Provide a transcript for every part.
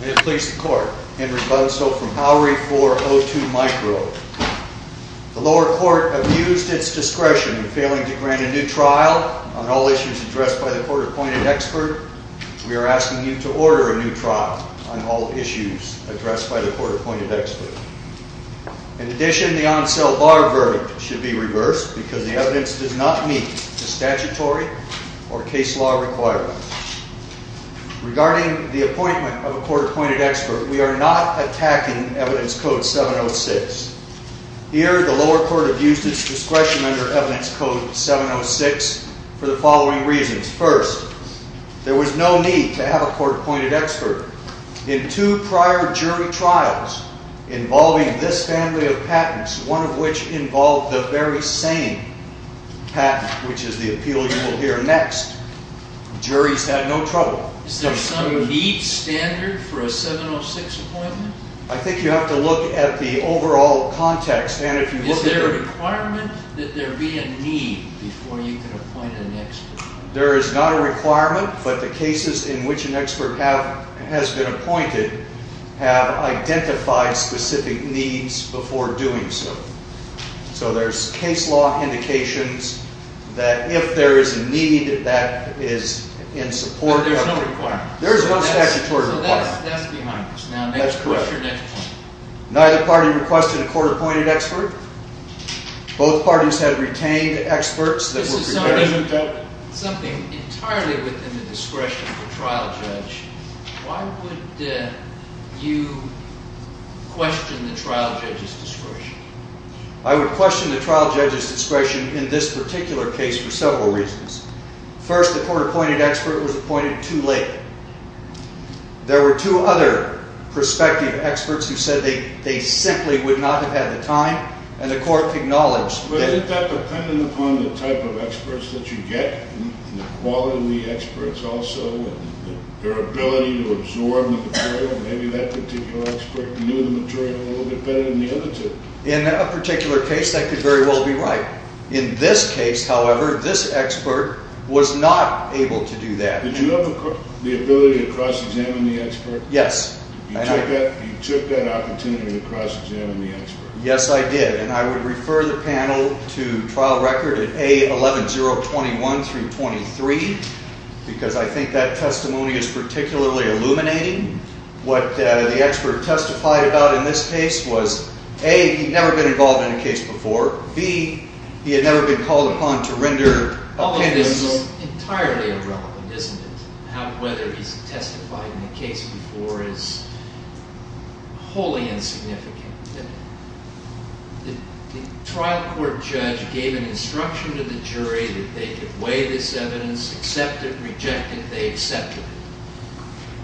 May it please the Court, Henry Bunso from Power v. O2 Micro. The lower court abused its discretion in failing to grant a new trial on all issues addressed by the court-appointed expert. We are asking you to order a new trial on all issues addressed by the court-appointed expert. In addition, the on-sell bar verdict should be reversed because the evidence does not meet the statutory or case law requirements. Regarding the appointment of a court-appointed expert, we are not attacking Evidence Code 706. Here, the lower court abused its discretion under Evidence Code 706 for the following reasons. First, there was no need to have a court-appointed expert in two prior jury trials involving this family of patents, one of which involved the very same patent, which is the appeal you will hear next. The juries had no trouble. Is there some need standard for a 706 appointment? I think you have to look at the overall context. Is there a requirement that there be a need before you can appoint an expert? There is not a requirement, but the cases in which an expert has been appointed have identified specific needs before doing so. So there are case law indications that if there is a need that is in support... But there is no requirement? There is no statutory requirement. So that's behind this. That's correct. Neither party requested a court-appointed expert. Both parties had retained experts that were prepared... Something entirely within the discretion of the trial judge. Why would you question the trial judge's discretion? I would question the trial judge's discretion in this particular case for several reasons. First, the court-appointed expert was appointed too late. There were two other prospective experts who said they simply would not have had the time, and the court acknowledged that. But isn't that dependent upon the type of experts that you get? The quality of the experts also, and their ability to absorb the material. Maybe that particular expert knew the material a little bit better than the other two. In that particular case, that could very well be right. In this case, however, this expert was not able to do that. Did you have the ability to cross-examine the expert? Yes. You took that opportunity to cross-examine the expert? Yes, I did. And I would refer the panel to trial record at A11021 through 23, because I think that testimony is particularly illuminating. What the expert testified about in this case was, A, he'd never been involved in a case before. B, he had never been called upon to render opinion. All of this is entirely irrelevant, isn't it? Whether he's testified in a case before is wholly insignificant. The trial court judge gave an instruction to the jury that they could weigh this evidence, accept it, reject it, they accepted it.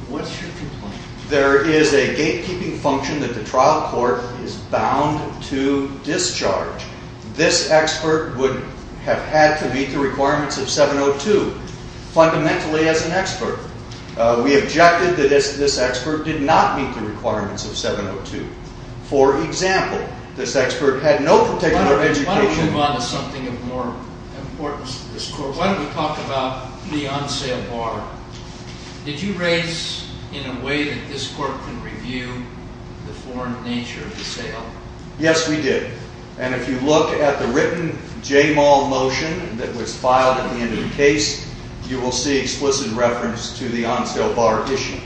What's your complaint? There is a gatekeeping function that the trial court is bound to discharge. This expert would have had to meet the requirements of 702, fundamentally as an expert. We objected that this expert did not meet the requirements of 702. For example, this expert had no particular education. Why don't we move on to something of more importance to this court? Why don't we talk about the on-sale bar? Did you raise in a way that this court could review the foreign nature of the sale? Yes, we did. And if you look at the written JMAL motion that was filed at the end of the case, you will see explicit reference to the on-sale bar issue.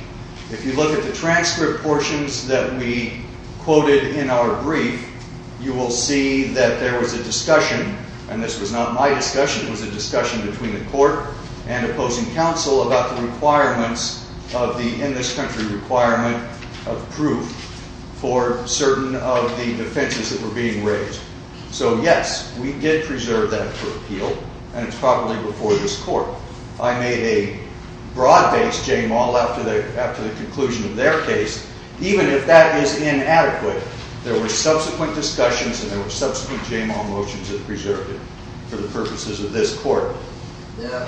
If you look at the transcript portions that we quoted in our brief, you will see that there was a discussion, and this was not my discussion, it was a discussion between the court and opposing counsel about the requirements of the in this country requirement of proof for certain of the defenses that were being raised. So, yes, we did preserve that for appeal, and it's probably before this court. I made a broad-based JMAL after the conclusion of their case. Even if that is inadequate, there were subsequent discussions and there were subsequent JMAL motions that preserved it for the purposes of this court. Now,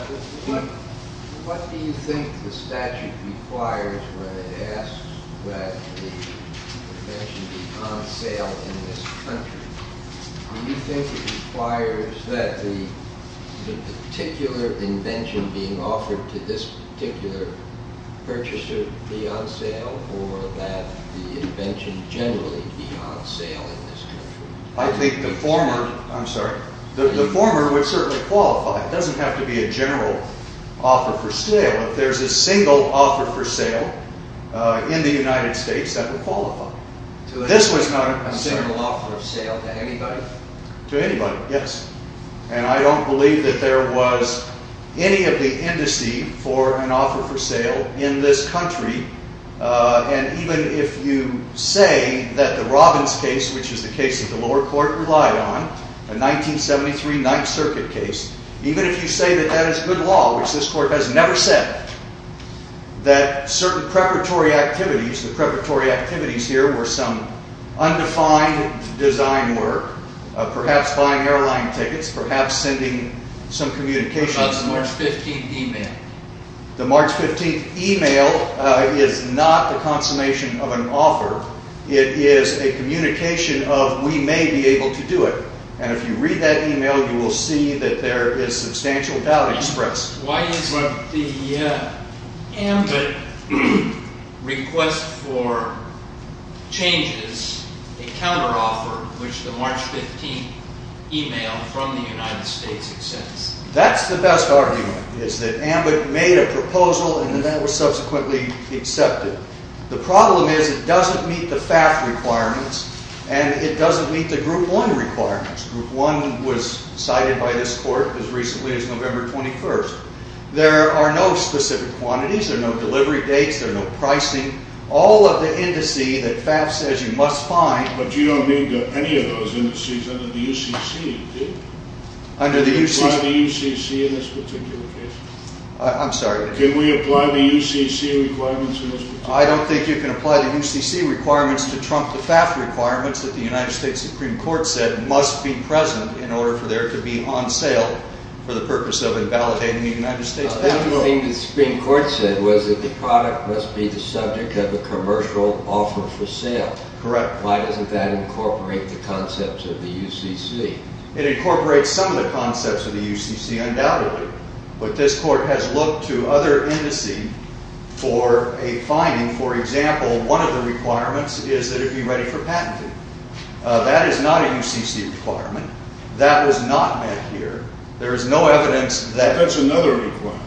what do you think the statute requires when it asks that the invention be on sale in this country? Do you think it requires that the particular invention being offered to this particular purchaser be on sale or that the invention generally be on sale in this country? I think the former, I'm sorry, the former would certainly qualify. It doesn't have to be a general offer for sale. If there's a single offer for sale in the United States, that would qualify. This was not a single offer of sale to anybody? To anybody, yes. And I don't believe that there was any of the indice for an offer for sale in this country. And even if you say that the Robbins case, which is the case that the lower court relied on, a 1973 Ninth Circuit case, even if you say that that is good law, which this court has never said, that certain preparatory activities, the preparatory activities here were some undefined design work, perhaps buying airline tickets, perhaps sending some communications. What about the March 15th email? The March 15th email is not a consummation of an offer. It is a communication of we may be able to do it. And if you read that email, you will see that there is substantial doubt expressed. Why isn't the AMBIT request for changes a counteroffer, which the March 15th email from the United States accepts? That's the best argument. It's that AMBIT made a proposal and that was subsequently accepted. The problem is it doesn't meet the FAF requirements, and it doesn't meet the Group 1 requirements. Group 1 was cited by this court as recently as November 21st. There are no specific quantities. There are no delivery dates. There are no pricing. All of the indice that FAF says you must find... But you don't need any of those indices under the UCC, do you? Can we apply the UCC in this particular case? I'm sorry? Can we apply the UCC requirements in this particular case? I don't think you can apply the UCC requirements to trump the FAF requirements that the United States Supreme Court said must be present in order for there to be on sale for the purpose of invalidating the United States FAF. The thing the Supreme Court said was that the product must be the subject of a commercial offer for sale. Correct. Why doesn't that incorporate the concepts of the UCC? It incorporates some of the concepts of the UCC, undoubtedly. But this court has looked to other indices for a finding. For example, one of the requirements is that it be ready for patenting. That is not a UCC requirement. That was not met here. There is no evidence that... That's another requirement.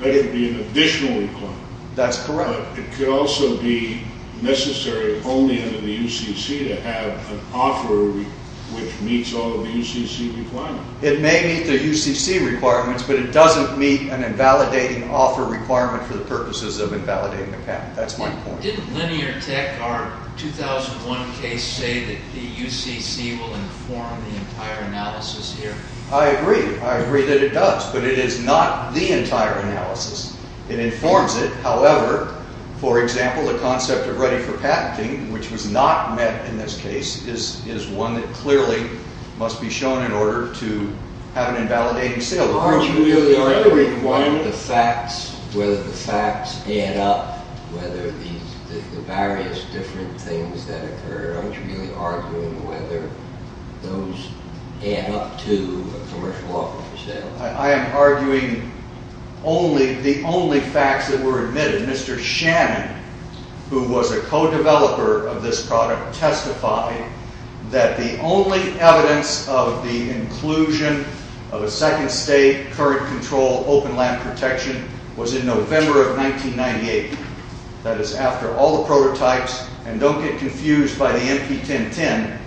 That would be an additional requirement. That's correct. It could also be necessary only under the UCC to have an offer which meets all of the UCC requirements. It may meet the UCC requirements, but it doesn't meet an invalidating offer requirement for the purposes of invalidating a patent. That's my point. Didn't Linear Tech, our 2001 case, say that the UCC will inform the entire analysis here? I agree. I agree that it does. But it is not the entire analysis. It informs it. However, for example, the concept of ready for patenting, which was not met in this case, is one that clearly must be shown in order to have an invalidating sale. Aren't you really arguing whether the facts add up, whether the various different things that occur, aren't you really arguing whether those add up to a commercial offer for sale? I am arguing the only facts that were admitted. Mr. Shannon, who was a co-developer of this product, testified that the only evidence of the inclusion of a second state current control open land protection was in November of 1998. That is after all the prototypes, and don't get confused by the NP-1010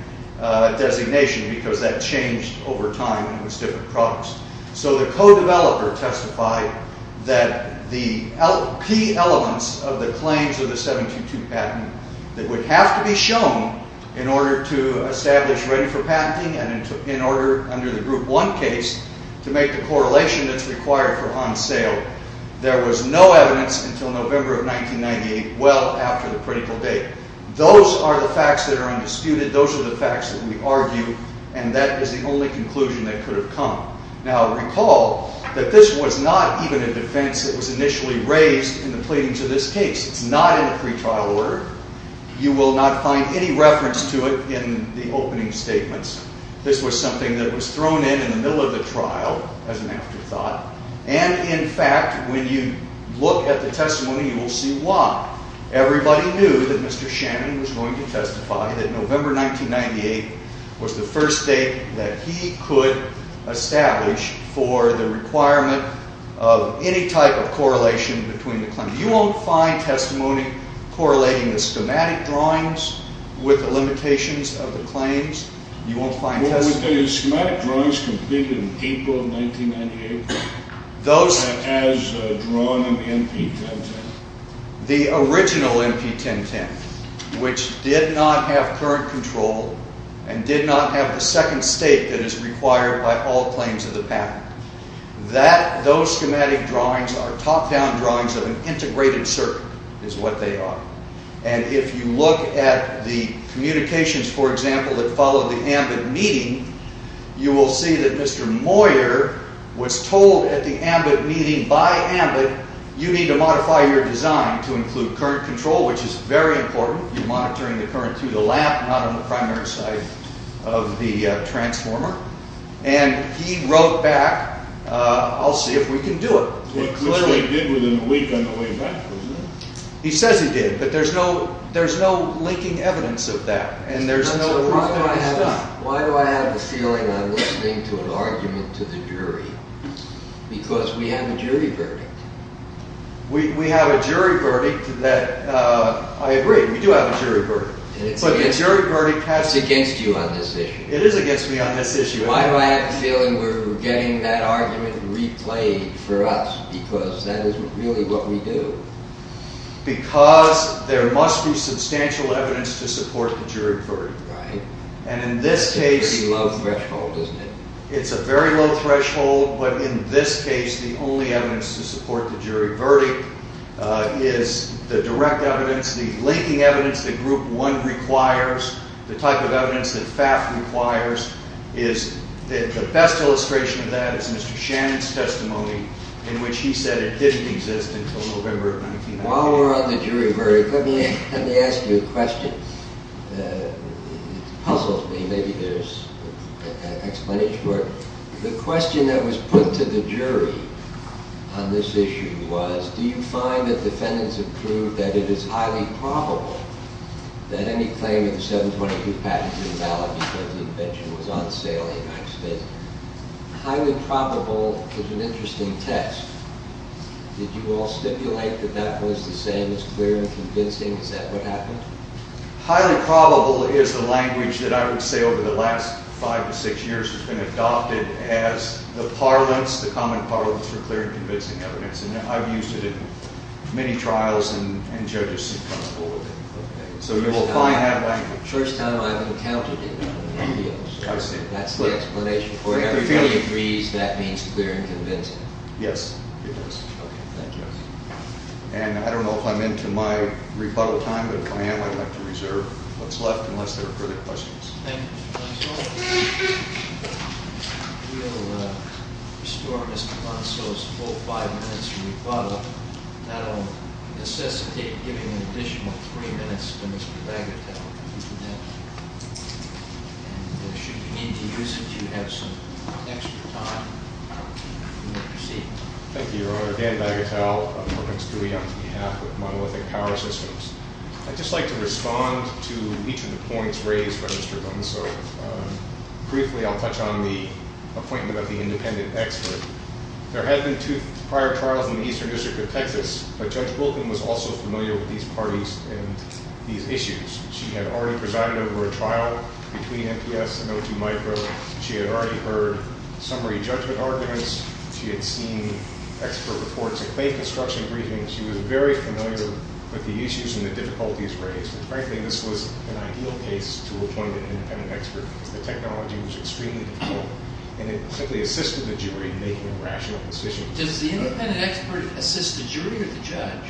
designation, because that changed over time and was different products. So the co-developer testified that the key elements of the claims of the 722 patent that would have to be shown in order to establish ready for patenting and in order, under the Group 1 case, to make the correlation that's required for on sale, there was no evidence until November of 1998, well after the critical date. Those are the facts that are undisputed. Those are the facts that we argue, and that is the only conclusion that could have come. Now recall that this was not even a defense that was initially raised in the pleadings of this case. It's not in the pretrial order. You will not find any reference to it in the opening statements. This was something that was thrown in in the middle of the trial as an afterthought, and in fact, when you look at the testimony, you will see why. Everybody knew that Mr. Shannon was going to testify that November 1998 was the first date that he could establish for the requirement of any type of correlation between the claims. You won't find testimony correlating the schematic drawings with the limitations of the claims. You won't find testimony... Well, were the schematic drawings completed in April of 1998 as drawn in the NP-1010? The original NP-1010, which did not have current control and did not have the second state that is required by all claims of the patent. Those schematic drawings are top-down drawings of an integrated circuit, is what they are. And if you look at the communications, for example, that followed the AMBIT meeting, you will see that Mr. Moyer was told at the AMBIT meeting, by AMBIT, you need to modify your design to include current control, which is very important. You're monitoring the current through the lamp, not on the primary side of the transformer. And he wrote back, I'll see if we can do it. Which they did within a week on the way back, wasn't it? He says he did, but there's no linking evidence of that, and there's no proof that he's done. Why do I have the feeling I'm listening to an argument to the jury? Because we have a jury verdict. We have a jury verdict that, I agree, we do have a jury verdict. But the jury verdict has to... It's against you on this issue. It is against me on this issue. Why do I have the feeling we're getting that argument replayed for us? Because that is really what we do. Because there must be substantial evidence to support the jury verdict. And in this case... It's a very low threshold, isn't it? It's a very low threshold, but in this case, the only evidence to support the jury verdict is the direct evidence, the linking evidence that Group 1 requires, the type of evidence that FAF requires. The best illustration of that is Mr. Shannon's testimony, in which he said it didn't exist until November of 1990. While we're on the jury verdict, let me ask you a question. It puzzles me. Maybe there's an explanation for it. The question that was put to the jury on this issue was, do you find that defendants have proved that it is highly probable that any claim of the 722 patent is invalid because the invention was on sale in the United States? Highly probable is an interesting test. Did you all stipulate that that was the same as clear and convincing? Is that what happened? Highly probable is the language that I would say over the last five to six years has been adopted as the parlance, the common parlance for clear and convincing evidence. And I've used it in many trials, and judges seem comfortable with it. So you will find that language. First time I've encountered it in appeals. I see. That's the explanation for it. Everybody agrees that means clear and convincing. Yes, it does. Okay, thank you. And I don't know if I'm into my rebuttal time, but if I am, I'd like to reserve what's left unless there are further questions. Thank you. Thank you, Your Honor. Dan Bagatelle of Perkins Coie on behalf of Monolithic Power Systems. I'd just like to respond to each of the points raised by Mr. Gunso. Briefly, I'll touch on the appointment of the independent expert. There had been two prior trials in the Eastern District of Texas, but Judge Boulton was also familiar with these parties and these issues. She had already presided over a trial between NPS and O2 Micro. She had already heard summary judgment arguments. She had seen expert reports, a claim construction briefing. She was very familiar with the issues and the difficulties raised. And, frankly, this was an ideal case to appoint an independent expert. The technology was extremely difficult, and it simply assisted the jury in making a rational decision. Does the independent expert assist the jury or the judge?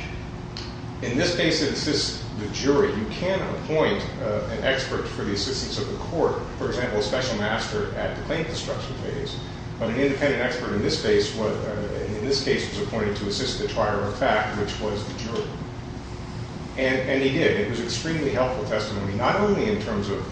In this case, it assists the jury. You can appoint an expert for the assistance of the court, for example, a special master at the claim construction phase. But an independent expert in this case was appointed to assist the trial of a fact, which was the jury. And he did. It was an extremely helpful testimony, not only in terms of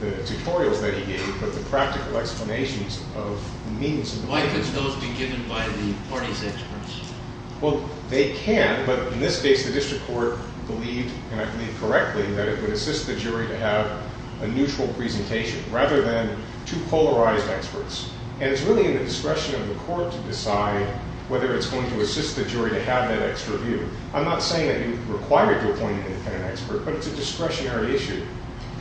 the tutorials that he gave, but the practical explanations of means. Why could those be given by the parties' experts? Well, they can, but in this case the district court believed, and I believe correctly, that it would assist the jury to have a neutral presentation rather than two polarized experts. And it's really in the discretion of the court to decide whether it's going to assist the jury to have that extra view. I'm not saying that you require to appoint an independent expert, but it's a discretionary issue.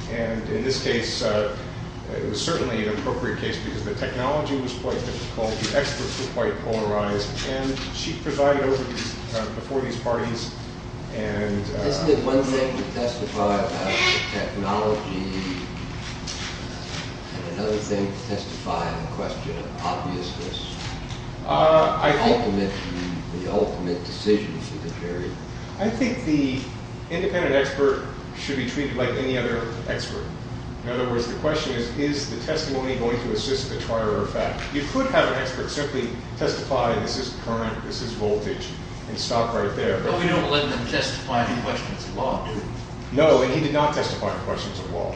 And in this case, it was certainly an appropriate case because the technology was quite difficult, the experts were quite polarized, and she presided over these parties. Isn't it one thing to testify about the technology and another thing to testify on the question of obviousness, the ultimate decision for the jury? I think the independent expert should be treated like any other expert. In other words, the question is, is the testimony going to assist the trial of a fact? You could have an expert simply testify, this is current, this is voltage, and stop right there. But we don't let them testify to questions of law, do we? No, and he did not testify to questions of law.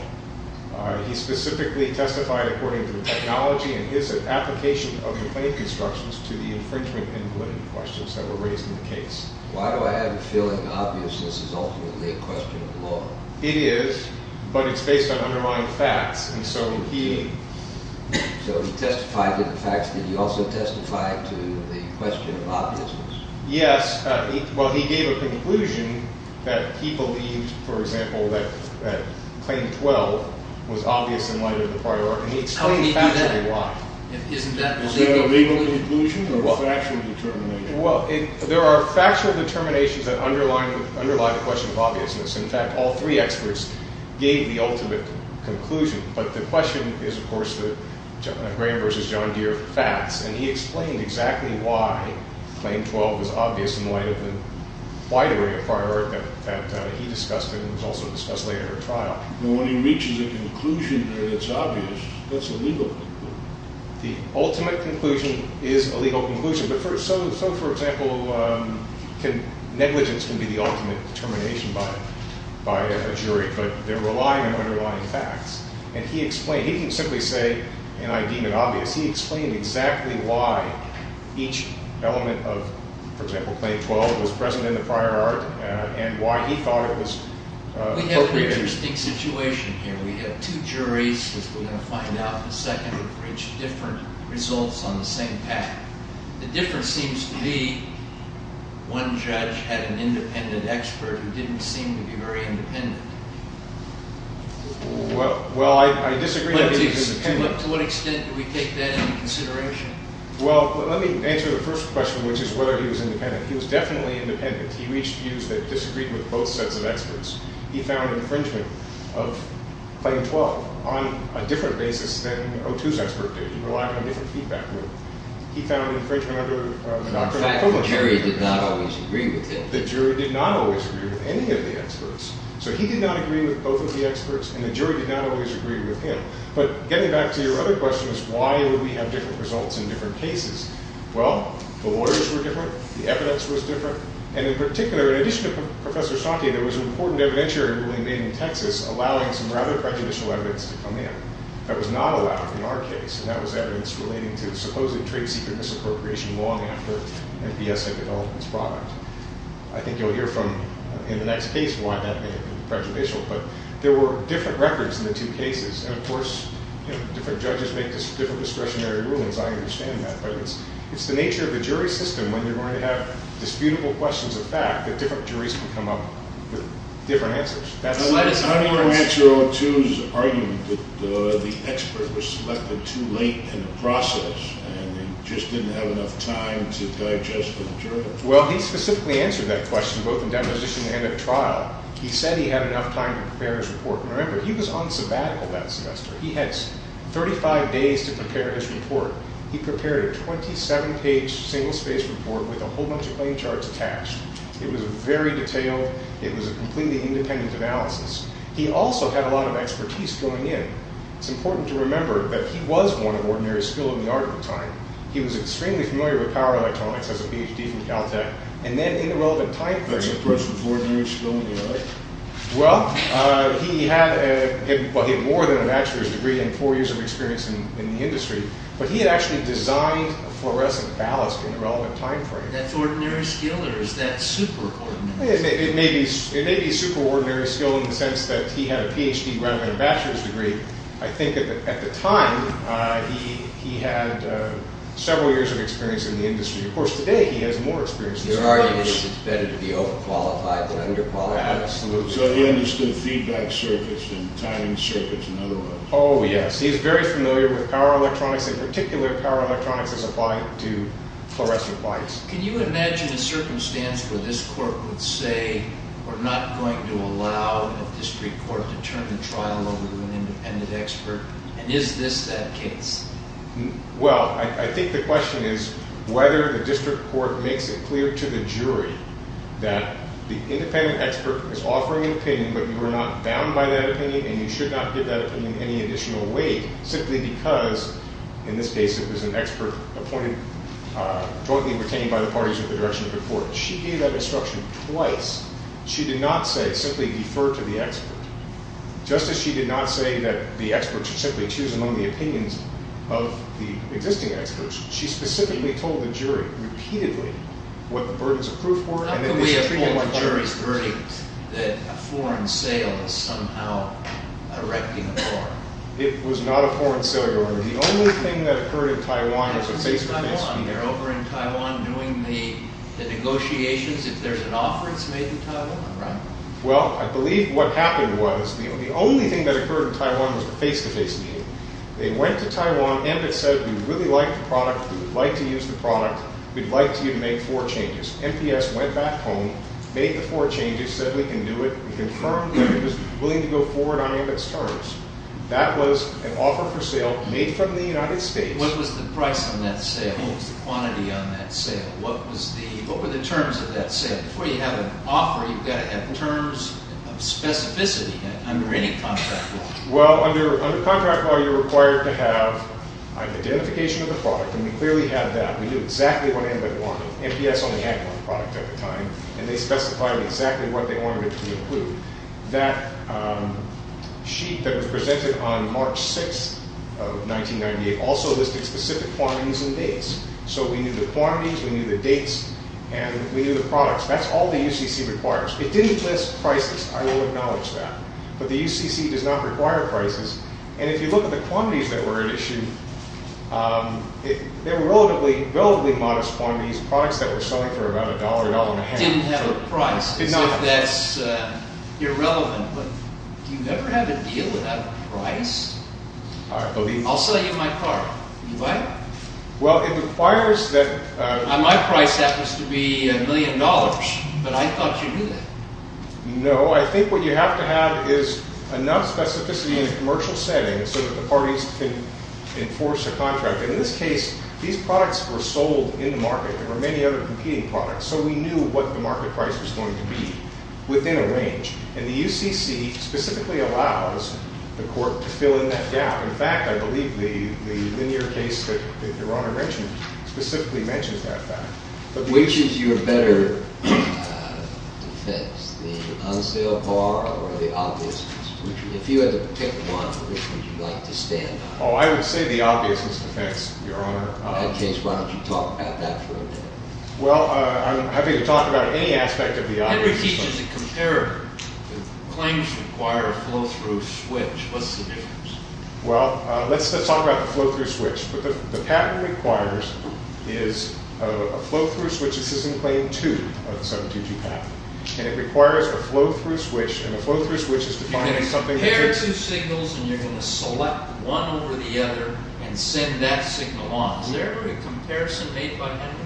He specifically testified according to the technology and his application of the claim constructions to the infringement and limit questions that were raised in the case. Why do I have a feeling that obviousness is ultimately a question of law? It is, but it's based on underlying facts, and so he... So he testified to the facts, did he also testify to the question of obviousness? Yes, well, he gave a conclusion that he believed, for example, that Claim 12 was obvious in light of the prior... And he explained factually why. Isn't that a legal conclusion or a factual determination? Well, there are factual determinations that underline the question of obviousness. In fact, all three experts gave the ultimate conclusion, but the question is, of course, Graham v. John Deere facts, and he explained exactly why Claim 12 was obvious in light of the wide array of prior art that he discussed and was also discussed later in the trial. When he reaches a conclusion that's obvious, that's a legal conclusion. The ultimate conclusion is a legal conclusion. So, for example, negligence can be the ultimate determination by a jury, but they're relying on underlying facts. And he explained, he didn't simply say, and I deem it obvious, he explained exactly why each element of, for example, Claim 12 was present in the prior art and why he thought it was totally obvious. We have an interesting situation here. We have two juries, as we're going to find out in a second, who've reached different results on the same path. The difference seems to be one judge had an independent expert who didn't seem to be very independent. Well, I disagree. To what extent do we take that into consideration? Well, let me answer the first question, which is whether he was independent. He was definitely independent. He reached views that disagreed with both sets of experts. He found infringement of Claim 12 on a different basis than O2's expert did. He relied on a different feedback group. He found infringement under the Doctrine of Privilege. In fact, the jury did not always agree with him. The jury did not always agree with any of the experts. So he did not agree with both of the experts, and the jury did not always agree with him. But getting back to your other question is, why would we have different results in different cases? Well, the lawyers were different. The evidence was different. And in particular, in addition to Professor Satya, there was important evidentiary ruling made in Texas allowing some rather prejudicial evidence to come in. That was not allowed in our case, and that was evidence relating to the supposedly trade secret misappropriation long after MPS had developed this product. I think you'll hear from, in the next case, why that may have been prejudicial. But there were different records in the two cases. And of course, different judges make different discretionary rulings. I understand that. But it's the nature of the jury system, when you're going to have disputable questions of fact, that different juries can come up with different answers. I don't want to answer O2's argument that the expert was selected too late in the process and just didn't have enough time to digest for the jury. Well, he specifically answered that question, both in demonstration and at trial. He said he had enough time to prepare his report. Remember, he was on sabbatical that semester. He had 35 days to prepare his report. He prepared a 27-page, single-spaced report with a whole bunch of playing charts attached. It was very detailed. It was a completely independent analysis. He also had a lot of expertise going in. It's important to remember that he was one of ordinary skill in the art of the time. He was extremely familiar with power electronics as a Ph.D. from Caltech. And then, in the relevant time frame... That's a person of ordinary skill in the art. Well, he had more than a bachelor's degree and four years of experience in the industry. But he had actually designed a fluorescent ballast in the relevant time frame. That's ordinary skill, or is that super-ordinary? It may be super-ordinary skill in the sense that he had a Ph.D. rather than a bachelor's degree. I think, at the time, he had several years of experience in the industry. Of course, today, he has more experience in the industry. Your argument is that it's better to be overqualified than underqualified? Absolutely. So he understood feedback circuits and timing circuits, in other words. Oh, yes. He's very familiar with power electronics. In particular, power electronics is applied to fluorescent lights. Can you imagine a circumstance where this court would say, to turn the trial over to an independent expert? And is this that case? Well, I think the question is whether the district court makes it clear to the jury that the independent expert is offering an opinion, but you are not bound by that opinion, and you should not give that opinion any additional weight, simply because, in this case, it was an expert appointed jointly and retained by the parties with the direction of the court. She gave that instruction twice. She did not say, simply defer to the expert. Just as she did not say that the experts should simply choose among the opinions of the existing experts, she specifically told the jury, repeatedly, what the burdens of proof were. How could we have told the jury's verdict that a foreign sale is somehow erecting a war? It was not a foreign sale, Your Honor. The only thing that occurred in Taiwan was a face-to-face meeting. They're over in Taiwan doing the negotiations. That means if there's an offer, it's made in Taiwan, right? Well, I believe what happened was the only thing that occurred in Taiwan was a face-to-face meeting. They went to Taiwan. Ambit said, we really like the product. We'd like to use the product. We'd like you to make four changes. MPS went back home, made the four changes, said we can do it. We confirmed that it was willing to go forward on Ambit's terms. That was an offer for sale made from the United States. What was the price on that sale? What was the quantity on that sale? What were the terms of that sale? Before you have an offer, you've got to have terms of specificity under any contract law. Well, under contract law, you're required to have an identification of the product, and we clearly have that. We knew exactly what Ambit wanted. MPS only had one product at the time, and they specified exactly what they wanted it to include. That sheet that was presented on March 6th of 1998 also listed specific quantities and dates. So we knew the quantities, we knew the dates, and we knew the products. That's all the UCC requires. It didn't list prices. I will acknowledge that. But the UCC does not require prices. And if you look at the quantities that were at issue, they were relatively modest quantities, products that were selling for about $1, $1.50. It didn't have a price. It did not have a price. That's irrelevant, but do you ever have a deal without a price? I'll sell you my car. You buy it? Well, it requires that ---- My price happens to be $1 million, but I thought you knew that. No. I think what you have to have is enough specificity in a commercial setting so that the parties can enforce a contract. And in this case, these products were sold in the market. There were many other competing products, so we knew what the market price was going to be within a range. And the UCC specifically allows the court to fill in that gap. In fact, I believe the linear case that Your Honor mentioned specifically mentions that fact. Which is your better defense, the unsealed car or the obviousness? If you had to pick one, which would you like to stand on? Oh, I would say the obviousness defense, Your Honor. In that case, why don't you talk about that for a minute? Well, I'm happy to talk about any aspect of the obviousness. Henry teaches a comparator. Claims require a flow-through switch. What's the difference? Well, let's talk about the flow-through switch. What the patent requires is a flow-through switch. This is in Claim 2 of the 722 patent. And it requires a flow-through switch, and a flow-through switch is defined as something that ---- You can compare two signals, and you're going to select one over the other and send that signal on. Is there ever a comparison made by Henry?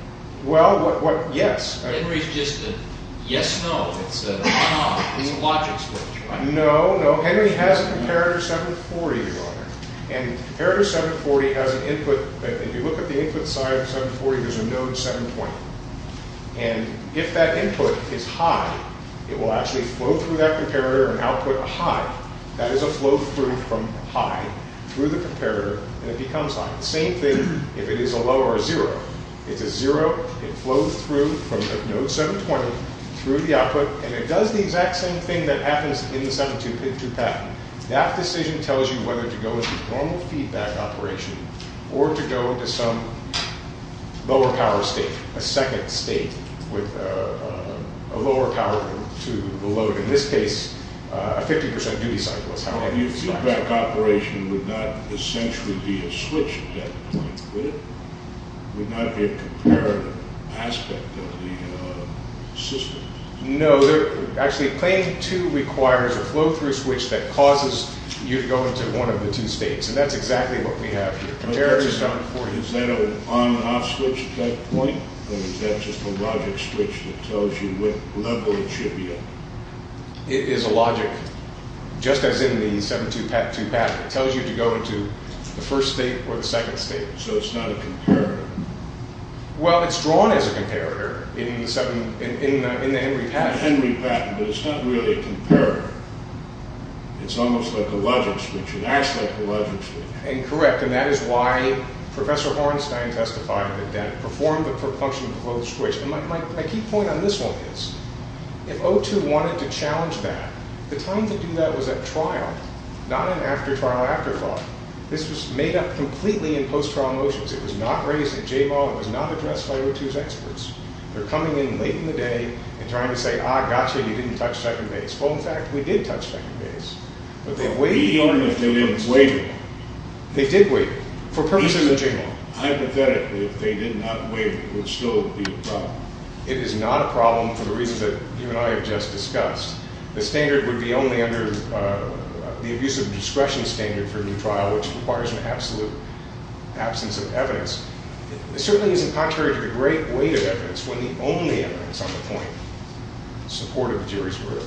Well, yes. Henry's just a yes-no. It's a logic switch. No, no. Henry has a comparator 740, Your Honor. And comparator 740 has an input. If you look at the input side of 740, there's a node 720. And if that input is high, it will actually flow through that comparator and output a high. That is a flow-through from high through the comparator, and it becomes high. The same thing if it is a low or a zero. It's a zero. It flows through from node 720 through the output, and it does the exact same thing that happens in the 722 patent. That decision tells you whether to go into normal feedback operation or to go into some lower power state, a second state with a lower power to the load. In this case, a 50% duty cycle is how high the feedback is. So the feedback operation would not essentially be a switch at that point, would it? It would not be a comparative aspect of the system? No. Actually, plane 2 requires a flow-through switch that causes you to go into one of the two states. And that's exactly what we have here. Is that an on-off switch at that point, or is that just a logic switch that tells you what level it should be at? It is a logic, just as in the 722 patent. It tells you to go into the first state or the second state. So it's not a comparative? Well, it's drawn as a comparator in the Henry patent. In the Henry patent, but it's not really a comparator. It's almost like a logic switch. It acts like a logic switch. And correct, and that is why Professor Hornstein testified that it did perform the propulsion flow switch. And my key point on this one is, if O2 wanted to challenge that, the time to do that was at trial, not in after-trial afterthought. This was made up completely in post-trial motions. It was not raised at JMAW. It was not addressed by O2's experts. They're coming in late in the day and trying to say, ah, gotcha, you didn't touch second base. Well, in fact, we did touch second base. But beyond if they had waived it. They did waive it, for purposes of JMAW. Hypothetically, if they did not waive it, it would still be a problem. It is not a problem for the reasons that you and I have just discussed. The standard would be only under the abuse of discretion standard for a new trial, which requires an absolute absence of evidence. It certainly isn't contrary to the great weight of evidence when the only evidence on the point supported the jury's word.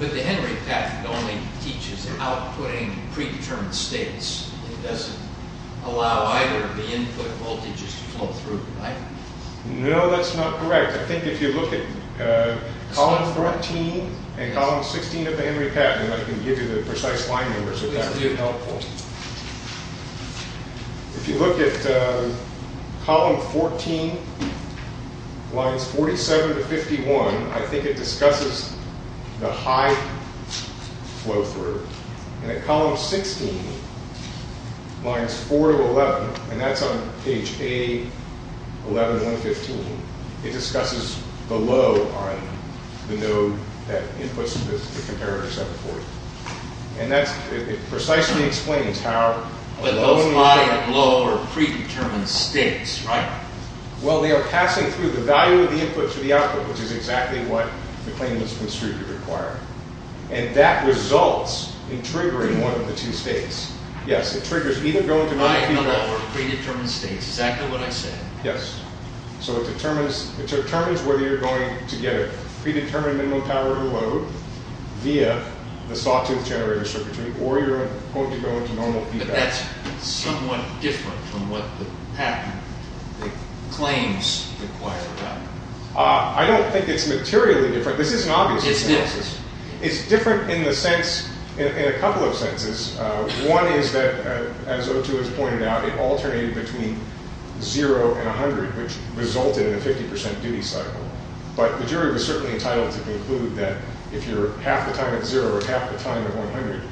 But the Henry Patent only teaches outputting predetermined states. It doesn't allow either of the input voltages to flow through, right? No, that's not correct. I think if you look at column 14 and column 16 of the Henry Patent, I can give you the precise line numbers if that's helpful. If you look at column 14, lines 47 to 51, I think it discusses the high flow through. And at column 16, lines 4 to 11, and that's on page A11115, it discusses the low on the node that inputs the comparator 740. And it precisely explains how— But those high, low, or predetermined states, right? Well, they are passing through the value of the input to the output, which is exactly what the claimants construed to require. And that results in triggering one of the two states. Yes, it triggers either going to— High, low, or predetermined states, exactly what I said. Yes, so it determines whether you're going to get a predetermined minimum power to load via the sawtooth generator circuitry, or you're going to go into normal feedback. But that's somewhat different from what the patent claims require. I don't think it's materially different. This isn't obvious. It's this. It's different in a couple of senses. One is that, as O2 has pointed out, it alternated between 0 and 100, which resulted in a 50% duty cycle. But the jury was certainly entitled to conclude that if you're half the time at 0 or half the time at 100,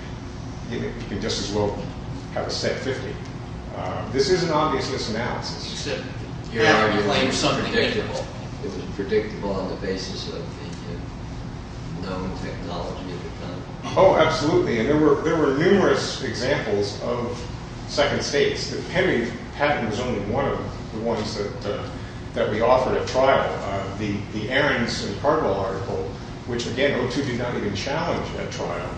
you can just as well have a set 50. This isn't obvious in this analysis. You said— Yeah. It was unpredictable. It was predictable on the basis of the known technology that had done it. Oh, absolutely. And there were numerous examples of second states. The Henry patent was only one of the ones that we offered at trial. The Ahrens and Cargill article, which, again, O2 did not even challenge at trial.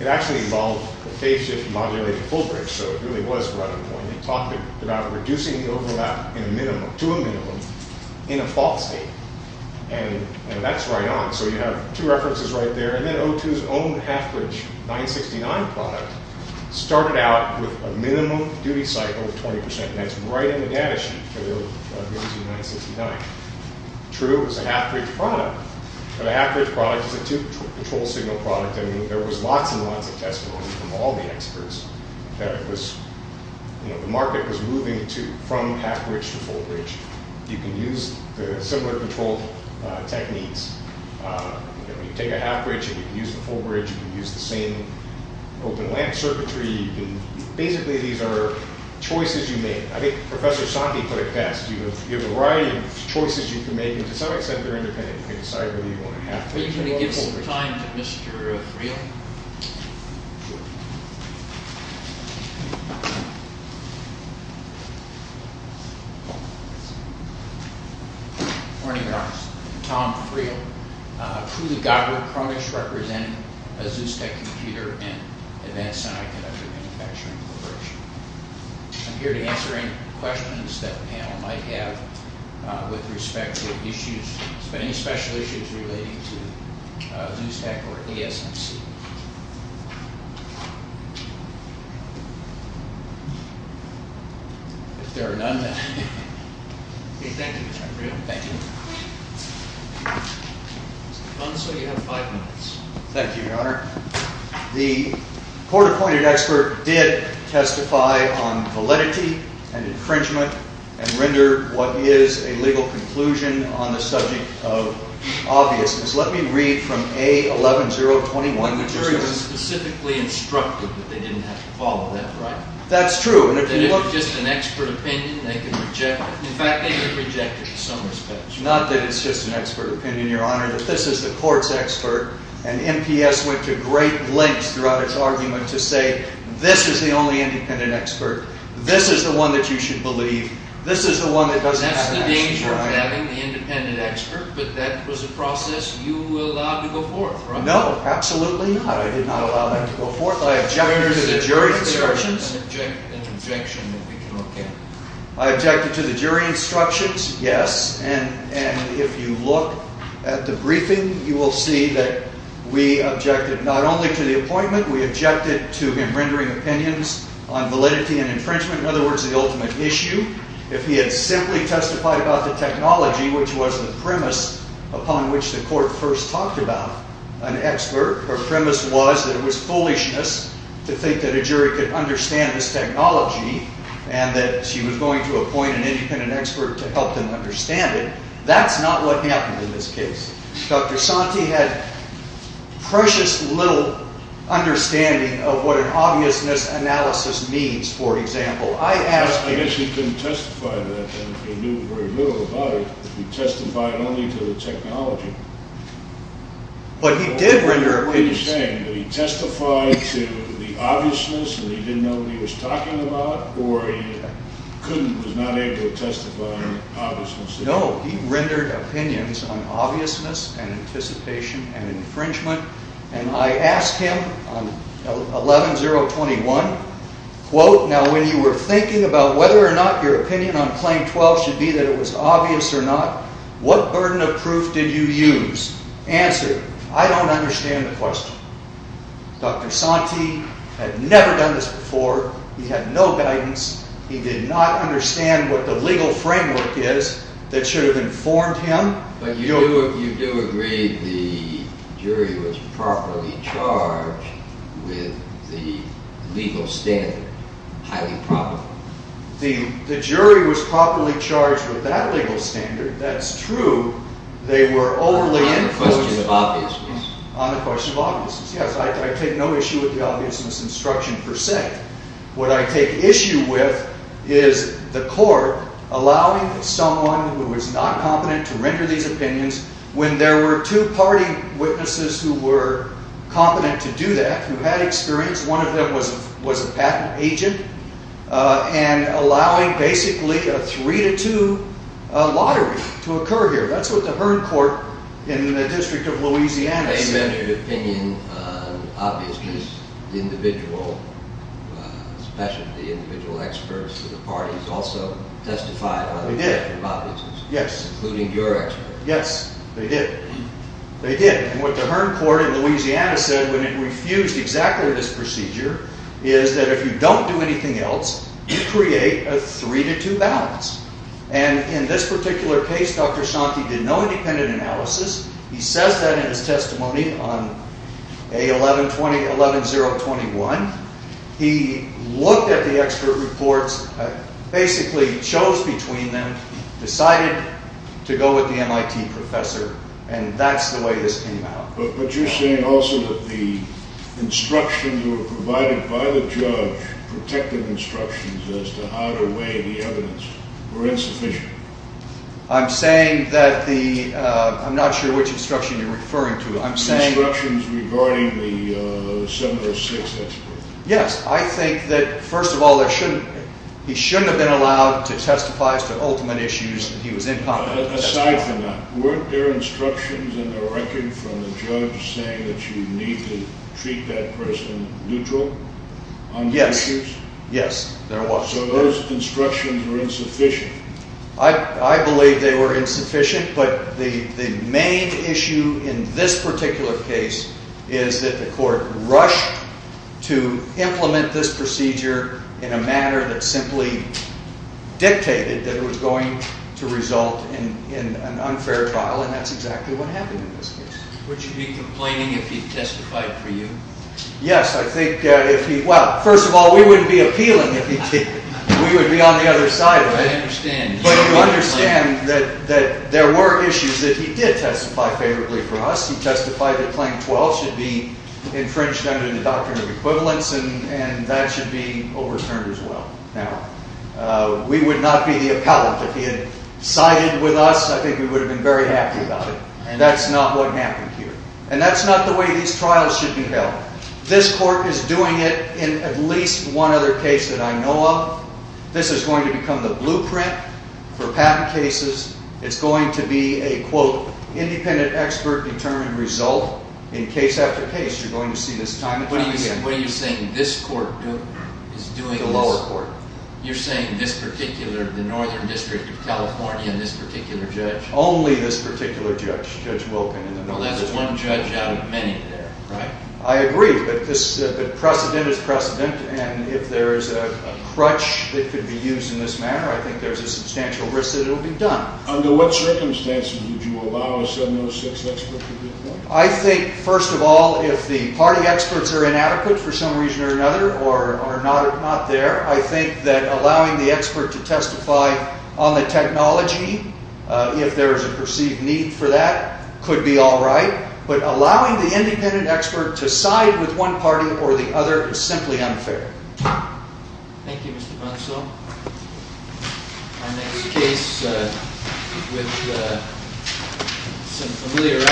It actually involved a phase-shift modulated full-bridge, so it really was right on point. It talked about reducing the overlap to a minimum in a false state. And that's right on. So you have two references right there. And then O2's own half-bridge 969 product started out with a minimum duty cycle of 20%, and that's right in the data sheet for O2 969. True, it was a half-bridge product, but a half-bridge product is a two-control signal product. I mean, there was lots and lots of testimony from all the experts that the market was moving from half-bridge to full-bridge. You can use the similar control techniques. You take a half-bridge and you can use the full-bridge. You can use the same open-lamp circuitry. Basically, these are choices you make. I think Professor Sante put it best. You have a variety of choices you can make, and to some extent, they're independent. We're going to give some time to Mr. Freel. Good morning, everyone. I'm Tom Freel, a Cooley-Goddard chronicist representing Azus Tech Computer and Advanced Semiconductor Manufacturing Corporation. I'm here to answer any questions that the panel might have with respect to issues, any special issues relating to Azus Tech or ASMC. If there are none, then... Thank you, Tom Freel. Thank you. Mr. Conso, you have five minutes. Thank you, Your Honor. The court-appointed expert did testify on validity and infringement and rendered what is a legal conclusion on the subject of obviousness. Let me read from A11021. The jury was specifically instructed that they didn't have to follow that, right? That's true. If it's just an expert opinion, they can reject it. In fact, they can reject it in some respects. Not that it's just an expert opinion, Your Honor. But this is the court's expert. And NPS went to great lengths throughout its argument to say, this is the only independent expert. This is the one that you should believe. This is the one that doesn't have an action. That's the danger of having the independent expert. But that was a process you allowed to go forth, right? No, absolutely not. I did not allow that to go forth. I objected to the jury instructions. An objection that we can look at. I objected to the jury instructions, yes. And if you look at the briefing, you will see that we objected not only to the appointment. We objected to him rendering opinions on validity and infringement. In other words, the ultimate issue. If he had simply testified about the technology, which was the premise upon which the court first talked about an expert, her premise was that it was foolishness to think that a jury could understand this technology and that she was going to appoint an independent expert to help them understand it. That's not what happened in this case. Dr. Santee had precious little understanding of what an obviousness analysis means, for example. I asked him. I guess he couldn't testify to that, then, if he knew very little about it. He testified only to the technology. But he did render opinions. Are you saying that he testified to the obviousness and he didn't know what he was talking about, or he couldn't, was not able to testify to obviousness? No, he rendered opinions on obviousness and anticipation and infringement. And I asked him on 11-021, quote, Now, when you were thinking about whether or not your opinion on Claim 12 should be that it was obvious or not, what burden of proof did you use? Answer. I don't understand the question. Dr. Santee had never done this before. He had no guidance. He did not understand what the legal framework is that should have informed him. But you do agree the jury was properly charged with the legal standard, highly properly. The jury was properly charged with that legal standard. That's true. On the question of obviousness. On the question of obviousness, yes. I take no issue with the obviousness instruction per se. What I take issue with is the court allowing someone who was not competent to render these opinions when there were two party witnesses who were competent to do that, who had experience. One of them was a patent agent. And allowing basically a 3-2 lottery to occur here. That's what the Hearn Court in the District of Louisiana said. They measured opinion on obviousness. The individual, especially the individual experts of the parties also testified on the issue of obviousness. Yes. Including your experts. Yes, they did. They did. And what the Hearn Court in Louisiana said when it refused exactly this procedure is that if you don't do anything else, you create a 3-2 balance. And in this particular case, Dr. Schanke did no independent analysis. He says that in his testimony on A11021. He looked at the expert reports, basically chose between them, decided to go with the MIT professor, and that's the way this came out. But you're saying also that the instructions that were provided by the judge, protective instructions as to how to weigh the evidence, were insufficient. I'm saying that the, I'm not sure which instruction you're referring to. The instructions regarding the 706 expert. Yes. I think that, first of all, he shouldn't have been allowed to testify as to ultimate issues. He was incompetent. Aside from that, weren't there instructions in the record from the judge saying that you need to treat that person neutral on the issues? Yes. Yes, there was. So those instructions were insufficient. I believe they were insufficient, but the main issue in this particular case is that the court rushed to implement this procedure in a manner that simply dictated that it was going to result in an unfair trial, and that's exactly what happened in this case. Would you be complaining if he testified for you? Yes, I think if he, well, first of all, we wouldn't be appealing if he did. We would be on the other side of it. I understand. But you understand that there were issues that he did testify favorably for us. He testified that Claim 12 should be infringed under the Doctrine of Equivalence, and that should be overturned as well. Now, we would not be the appellant if he had sided with us. I think we would have been very happy about it, and that's not what happened here. And that's not the way these trials should be held. This court is doing it in at least one other case that I know of. This is going to become the blueprint for patent cases. It's going to be a, quote, independent expert-determined result. In case after case, you're going to see this time and time again. What are you saying? This court is doing this? The lower court. You're saying this particular, the Northern District of California and this particular judge? Only this particular judge, Judge Wilkin. Well, that's one judge out of many there, right? I agree, but precedent is precedent, and if there is a crutch that could be used in this manner, I think there's a substantial risk that it will be done. Under what circumstances would you allow a 706 expert to do that? I think, first of all, if the party experts are inadequate for some reason or another or are not there, I think that allowing the expert to testify on the technology, if there is a perceived need for that, could be all right. But allowing the independent expert to side with one party or the other is simply unfair. Thank you, Mr. Brunsell. Our next case with some familiar faces.